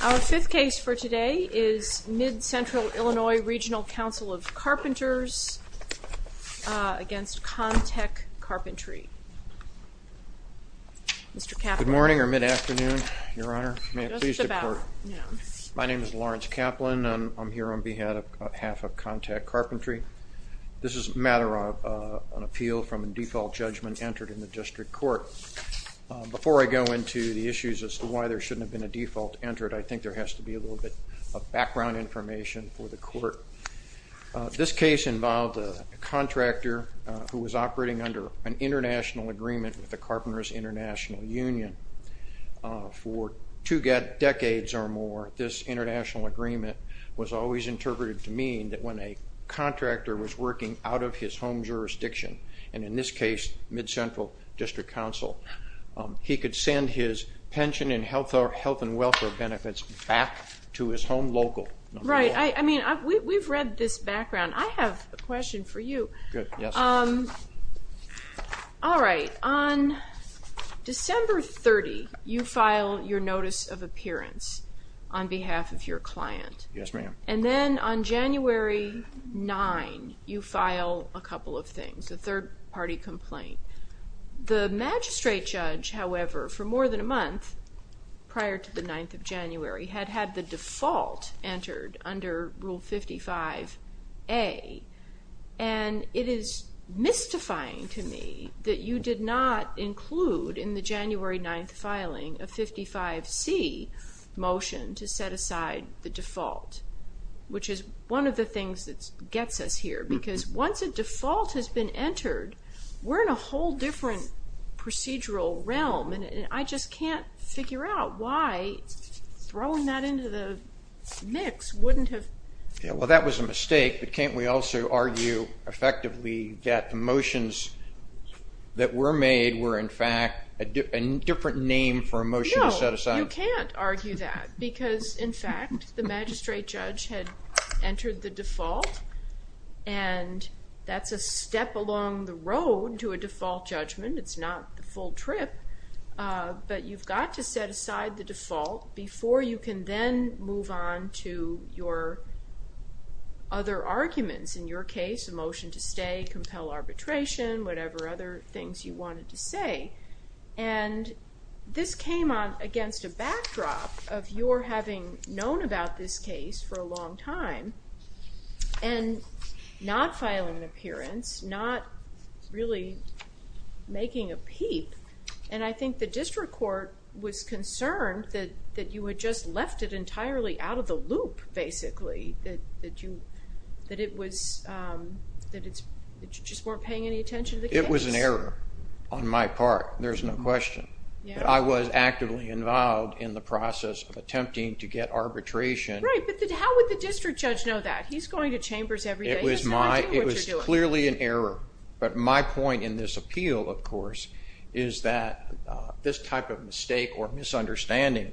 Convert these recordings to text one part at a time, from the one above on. Our fifth case for today is Mid-Central Illinois Regional Council of Carpenters against Con-Tech Carpentry. Good morning or mid-afternoon, Your Honor. My name is Lawrence Kaplan and I'm here on behalf of Con-Tech Carpentry. This is a matter of an appeal from a default judgment entered in the district court. Before I go into the issues as to why there shouldn't have been a default entered, I think there has to be a little bit of background information for the court. This case involved a contractor who was operating under an international agreement with the Carpenters International Union. For two decades or more, this international agreement was always interpreted to mean that when a contractor was working out of his home jurisdiction, and in this case, Mid-Central District Council, he could send his pension and health and welfare benefits back to his home local. Right. I mean, we've read this background. I have a question for you. Good. Yes. All right. On December 30, you file your notice of appearance on behalf of your client. Yes, ma'am. And then on January 9, you file a couple of things, a third-party complaint. The magistrate judge, however, for more than a month prior to the 9th of January, had had the default entered under Rule 55A, and it is mystifying to me that you did not include in the January 9 filing a 55C motion to set aside the default, which is one of the things that gets us here, because once a default has been entered, we're in a whole different procedural realm, and I just can't figure out why throwing that into the mix wouldn't have... Well, that was a mistake, but can't we also argue effectively that the motions that were made were, in fact, a different name for a motion to set aside? No, you can't argue that, because, in fact, the magistrate judge had entered the default, and that's a step along the road to a default judgment. It's not the full trip, but you've got to set aside the default before you can then move on to your other arguments. In your case, a motion to stay, compel arbitration, whatever other things you wanted to say, and this came on against a backdrop of your having known about this case for a long time and not filing an appearance, not really making a peep, and I think the district court was concerned that you had just left it entirely out of the loop, basically, that you just weren't paying any attention to the case. It was an error on my part, there's no question. I was actively involved in the process of attempting to get arbitration. Right, but how would the district judge know that? He's going to chambers every day. It was clearly an error, but my point in this appeal, of course, is that this type of mistake or misunderstanding,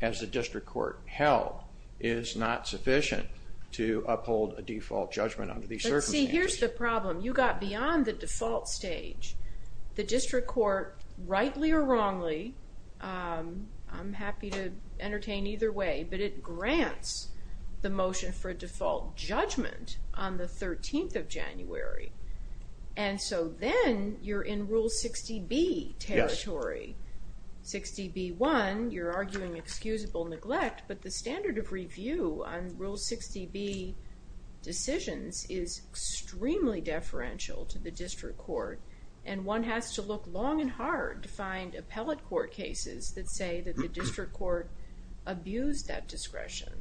as the district court held, is not sufficient to uphold a default judgment under these circumstances. See, here's the problem. You got beyond the default stage. The district court, rightly or wrongly, I'm happy to entertain either way, but it grants the motion for a default judgment on the 13th of January, and so then you're in Rule 60B territory. 60B1, you're arguing excusable neglect, but the standard of review on Rule 60B decisions is extremely deferential to the district court, and one has to look long and hard to find appellate court cases that say that the district court abused that discretion.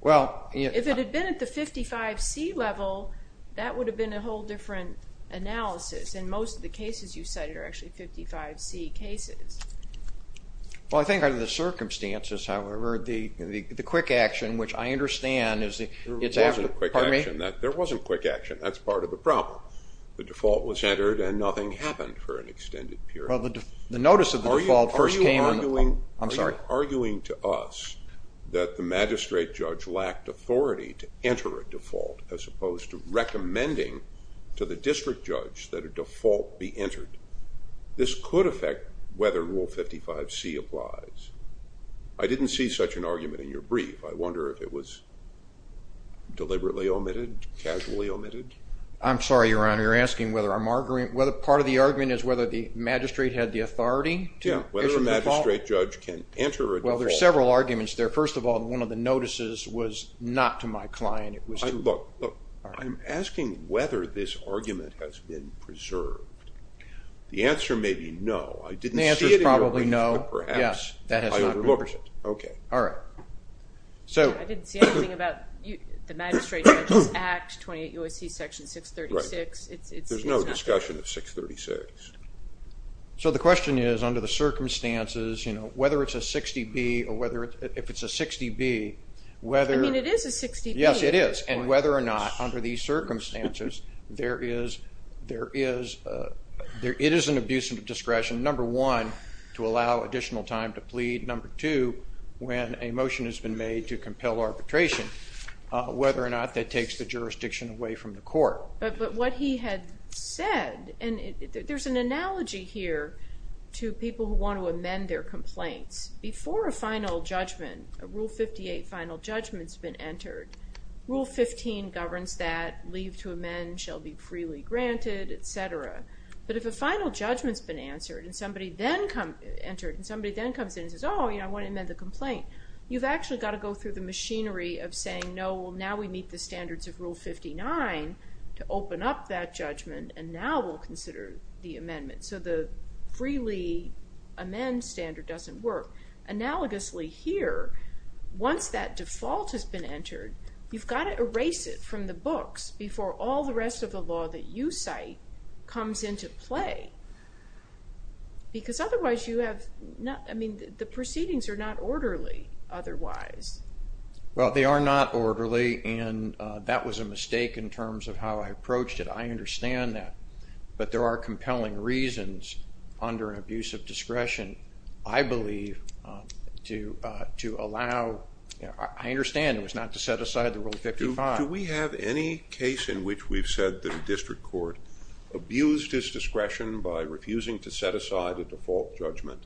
Well, if it had been at the 55C level, that would have been a whole different analysis, and most of the cases you cited are actually 55C cases. Well, I think under the circumstances, however, the quick action, which I understand is that it's after the pardon me. There wasn't quick action. There wasn't quick action. That's part of the problem. The default was entered, and nothing happened for an extended period. Well, the notice of the default first came in. Are you arguing to us that the magistrate judge lacked authority to enter a default as opposed to recommending to the district judge that a default be entered? This could affect whether Rule 55C applies. I didn't see such an argument in your brief. I wonder if it was deliberately omitted, casually omitted. I'm sorry, Your Honor. You're asking whether I'm arguing. Part of the argument is whether the magistrate had the authority to enter a default. Yeah, whether a magistrate judge can enter a default. Well, there are several arguments there. First of all, one of the notices was not to my client. Look, I'm asking whether this argument has been preserved. The answer may be no. The answer is probably no. Yes, that has not been preserved. Okay. All right. I didn't see anything about the magistrate judge's act, 28 U.S.C. section 636. There's no discussion of 636. So the question is, under the circumstances, whether it's a 60B or whether it's a 60B. I mean, it is a 60B. Yes, it is, and whether or not, under these circumstances, it is an abuse of discretion, number one, to allow additional time to plead, number two, when a motion has been made to compel arbitration, But what he had said, and there's an analogy here to people who want to amend their complaints. Before a final judgment, a Rule 58 final judgment's been entered, Rule 15 governs that leave to amend shall be freely granted, et cetera. But if a final judgment's been entered and somebody then comes in and says, Oh, you know, I want to amend the complaint, you've actually got to go through the machinery of saying, Oh, well, now we meet the standards of Rule 59 to open up that judgment, and now we'll consider the amendment. So the freely amend standard doesn't work. Analogously here, once that default has been entered, you've got to erase it from the books before all the rest of the law that you cite comes into play. Because otherwise you have, I mean, the proceedings are not orderly otherwise. Well, they are not orderly, and that was a mistake in terms of how I approached it. I understand that. But there are compelling reasons under an abuse of discretion, I believe, to allow, I understand it was not to set aside the Rule 55. Do we have any case in which we've said the district court abused its discretion by refusing to set aside a default judgment,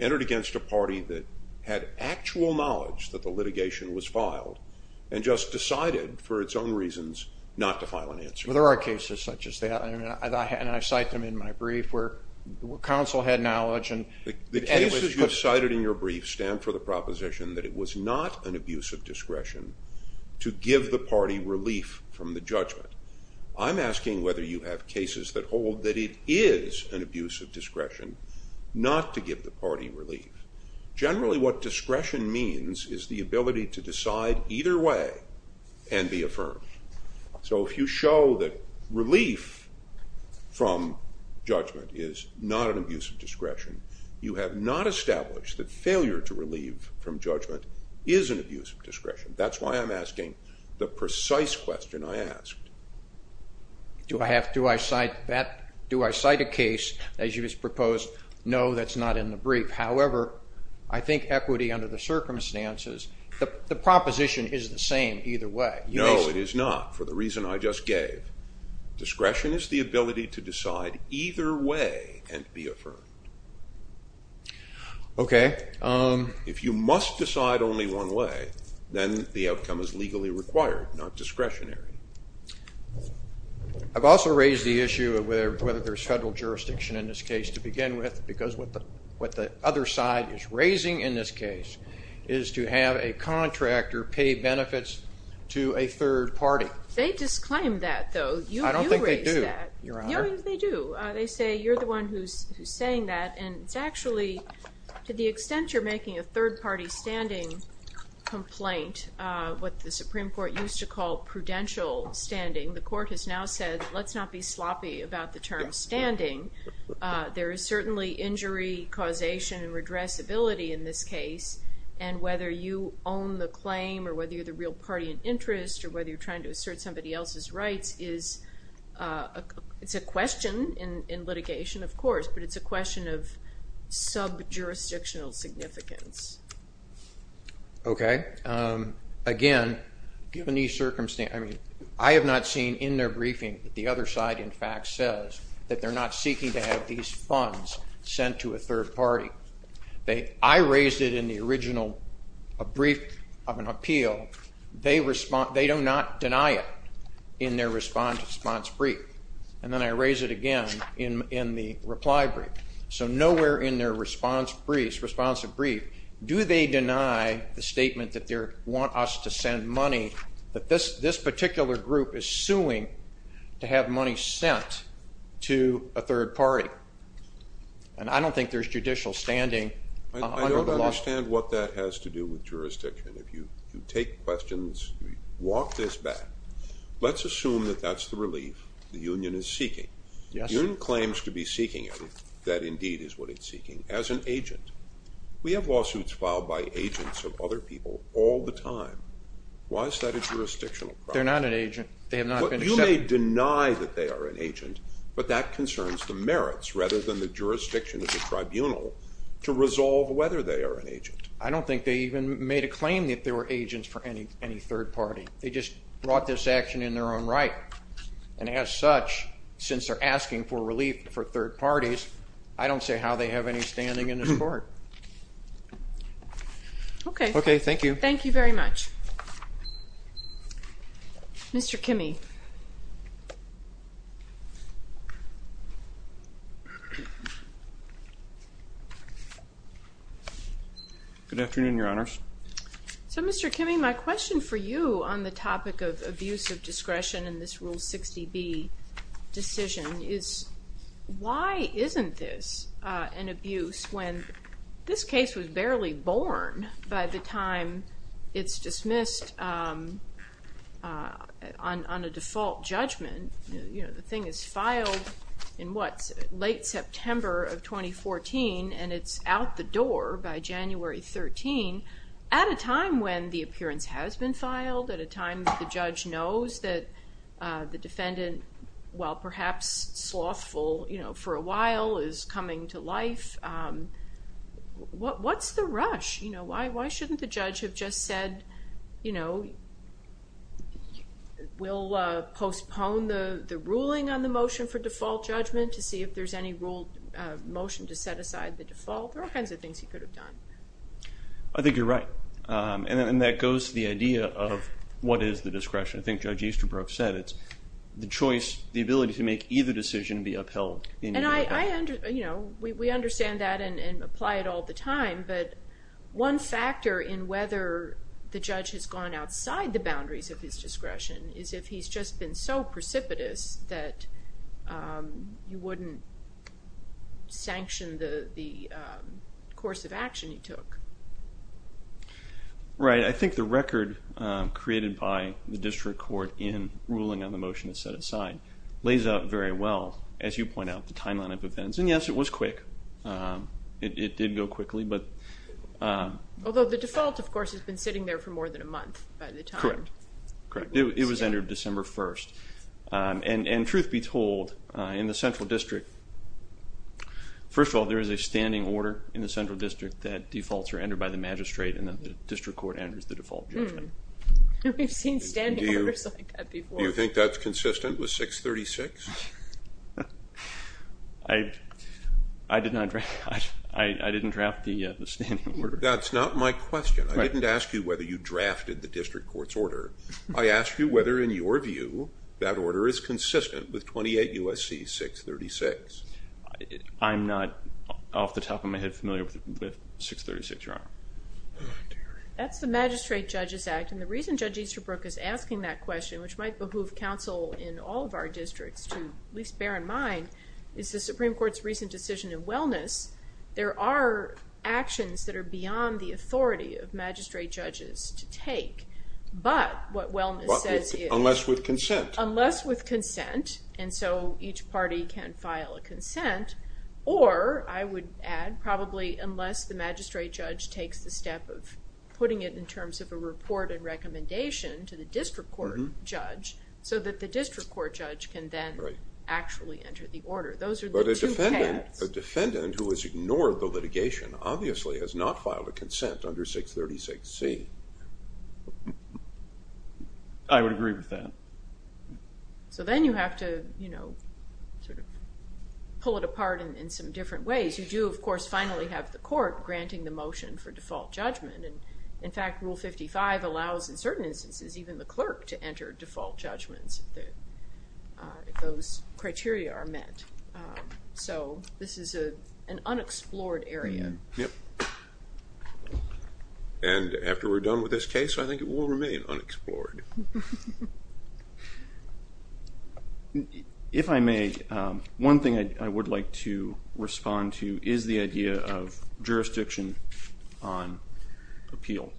entered against a party that had actual knowledge that the litigation was filed, and just decided for its own reasons not to file an answer? There are cases such as that, and I cite them in my brief where counsel had knowledge. The cases you've cited in your brief stand for the proposition that it was not an abuse of discretion to give the party relief from the judgment. I'm asking whether you have cases that hold that it is an abuse of discretion not to give the party relief. Generally what discretion means is the ability to decide either way and be affirmed. So if you show that relief from judgment is not an abuse of discretion, you have not established that failure to relieve from judgment is an abuse of discretion. That's why I'm asking the precise question I asked. Do I cite a case that you just proposed? No, that's not in the brief. However, I think equity under the circumstances, the proposition is the same either way. No, it is not, for the reason I just gave. Discretion is the ability to decide either way and be affirmed. Okay. If you must decide only one way, then the outcome is legally required, not discretionary. I've also raised the issue of whether there's federal jurisdiction in this case to begin with because what the other side is raising in this case is to have a contractor pay benefits to a third party. They disclaim that, though. I don't think they do, Your Honor. They do. They say you're the one who's saying that, and it's actually to the extent you're making a third-party standing complaint, what the Supreme Court used to call prudential standing, the court has now said let's not be sloppy about the term standing. There is certainly injury causation and redressability in this case, and whether you own the claim or whether you're the real party in interest or whether you're trying to assert somebody else's rights is a question in litigation, of course, but it's a question of sub-jurisdictional significance. Okay. Again, given these circumstances, I have not seen in their briefing that the other side, in fact, says that they're not seeking to have these funds sent to a third party. I raised it in the original brief of an appeal. They do not deny it in their response brief, and then I raise it again in the reply brief. So nowhere in their response brief do they deny the statement that they want us to send money, that this particular group is suing to have money sent to a third party, and I don't think there's judicial standing under the law. I don't understand what that has to do with jurisdiction. If you take questions, walk this back, let's assume that that's the relief the union is seeking. Yes, sir. The union claims to be seeking it, that indeed is what it's seeking, as an agent. We have lawsuits filed by agents of other people all the time. Why is that a jurisdictional problem? They're not an agent. You may deny that they are an agent, but that concerns the merits rather than the jurisdiction of the tribunal to resolve whether they are an agent. I don't think they even made a claim that they were agents for any third party. They just brought this action in their own right, and as such, since they're asking for relief for third parties, I don't see how they have any standing in this court. Okay. Okay, thank you. Thank you very much. Mr. Kimme. Good afternoon, Your Honors. So, Mr. Kimme, my question for you on the topic of abuse of discretion in this Rule 60B decision is, why isn't this an abuse when this case was barely born by the time it's dismissed on a default judgment? The thing is filed in, what, late September of 2014, and it's out the door by January 13, at a time when the appearance has been filed, at a time that the judge knows that the defendant, while perhaps slothful for a while, is coming to life. What's the rush? You know, why shouldn't the judge have just said, you know, we'll postpone the ruling on the motion for default judgment to see if there's any ruled motion to set aside the default? There are all kinds of things he could have done. I think you're right, and that goes to the idea of what is the discretion. I think Judge Easterbrook said it's the choice, the ability to make either decision be upheld. We understand that and apply it all the time, but one factor in whether the judge has gone outside the boundaries of his discretion is if he's just been so precipitous that you wouldn't sanction the course of action he took. Right. I think the record created by the district court in ruling on the motion to set aside lays out very well. As you point out, the timeline of events. And yes, it was quick. It did go quickly. Although the default, of course, has been sitting there for more than a month by the time. Correct. It was entered December 1st. And truth be told, in the central district, first of all, there is a standing order in the central district that defaults are entered by the magistrate and that the district court enters the default judgment. We've seen standing orders like that before. Do you think that's consistent with 636? I did not draft that. I didn't draft the standing order. That's not my question. I didn't ask you whether you drafted the district court's order. I asked you whether, in your view, that order is consistent with 28 U.S.C. 636. I'm not, off the top of my head, familiar with 636, Your Honor. That's the magistrate judge's act. And the reason Judge Easterbrook is asking that question, which might behoove counsel in all of our districts to at least bear in mind, is the Supreme Court's recent decision in wellness, there are actions that are beyond the authority of magistrate judges to take. But what wellness says is— Unless with consent. Unless with consent, and so each party can file a consent. Or, I would add, probably unless the magistrate judge takes the step of putting it in terms of a report and recommendation to the district court judge so that the district court judge can then actually enter the order. Those are the two paths. But a defendant who has ignored the litigation obviously has not filed a consent under 636C. I would agree with that. So then you have to pull it apart in some different ways. You do, of course, finally have the court granting the motion for default judgment. And, in fact, Rule 55 allows, in certain instances, even the clerk to enter default judgments if those criteria are met. So this is an unexplored area. Yep. And after we're done with this case, I think it will remain unexplored. If I may, one thing I would like to respond to is the idea of jurisdiction on appeal.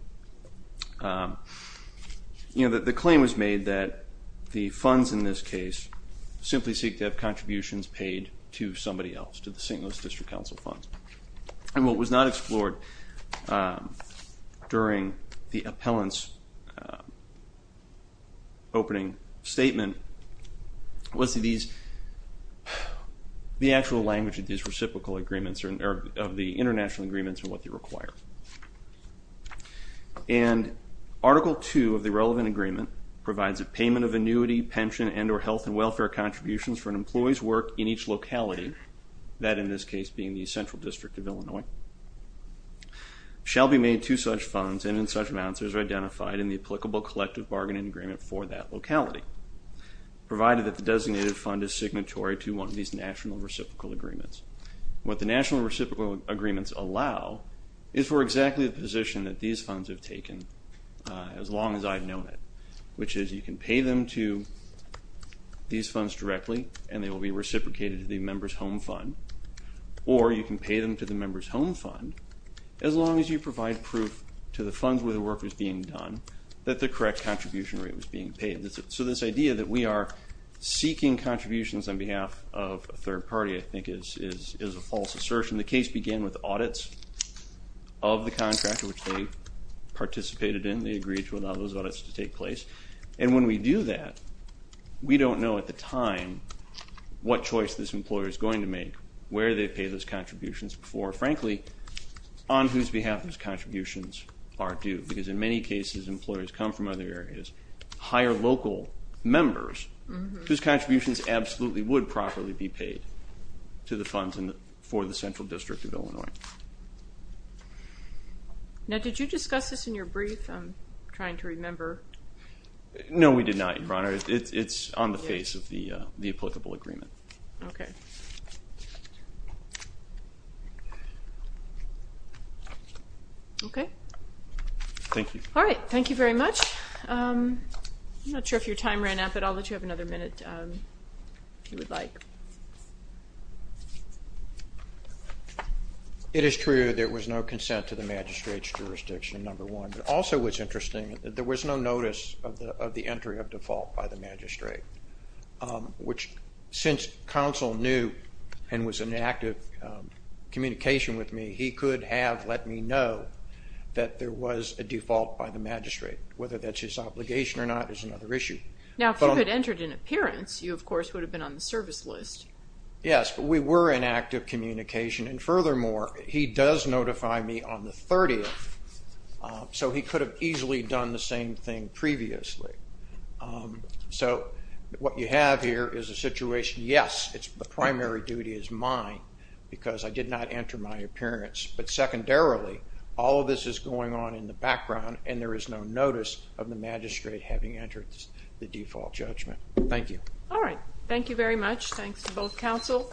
The claim was made that the funds in this case simply seek to have contributions paid to somebody else, to the St. Louis District Council funds. And what was not explored during the appellant's opening statement was the actual language of these reciprocal agreements or of the international agreements and what they require. And Article 2 of the relevant agreement provides a payment of annuity, pension, and or health and welfare contributions for an employee's work in each locality, that in this case being the Central District of Illinois, shall be made to such funds and in such amounts in the applicable collective bargaining agreement for that locality, provided that the designated fund is signatory to one of these national reciprocal agreements. What the national reciprocal agreements allow is for exactly the position that these funds have taken as long as I've known it, which is you can pay them to these funds directly and they will be reciprocated to the member's home fund, or you can pay them to the member's home fund as long as you provide proof to the funds where the work was being done that the correct contribution rate was being paid. So this idea that we are seeking contributions on behalf of a third party I think is a false assertion. The case began with audits of the contract which they participated in. They agreed to allow those audits to take place. And when we do that, we don't know at the time what choice this employer is going to make, where they've paid those contributions before. Or frankly, on whose behalf those contributions are due. Because in many cases employers come from other areas, hire local members whose contributions absolutely would properly be paid to the funds for the Central District of Illinois. Now did you discuss this in your brief? I'm trying to remember. No, we did not, Your Honor. It's on the face of the applicable agreement. Okay. Okay. Thank you. All right, thank you very much. I'm not sure if your time ran out, but I'll let you have another minute if you would like. It is true there was no consent to the magistrate's jurisdiction, number one. But also what's interesting, there was no notice of the entry of default by the magistrate. Which, since counsel knew and was in active communication with me, he could have let me know that there was a default by the magistrate. Whether that's his obligation or not is another issue. Now if you had entered in appearance, you of course would have been on the service list. Yes, but we were in active communication. And furthermore, he does notify me on the 30th, so he could have easily done the same thing previously. So what you have here is a situation. Yes, the primary duty is mine because I did not enter my appearance. But secondarily, all of this is going on in the background and there is no notice of the magistrate having entered the default judgment. Thank you. All right, thank you very much. Thanks to both counsel.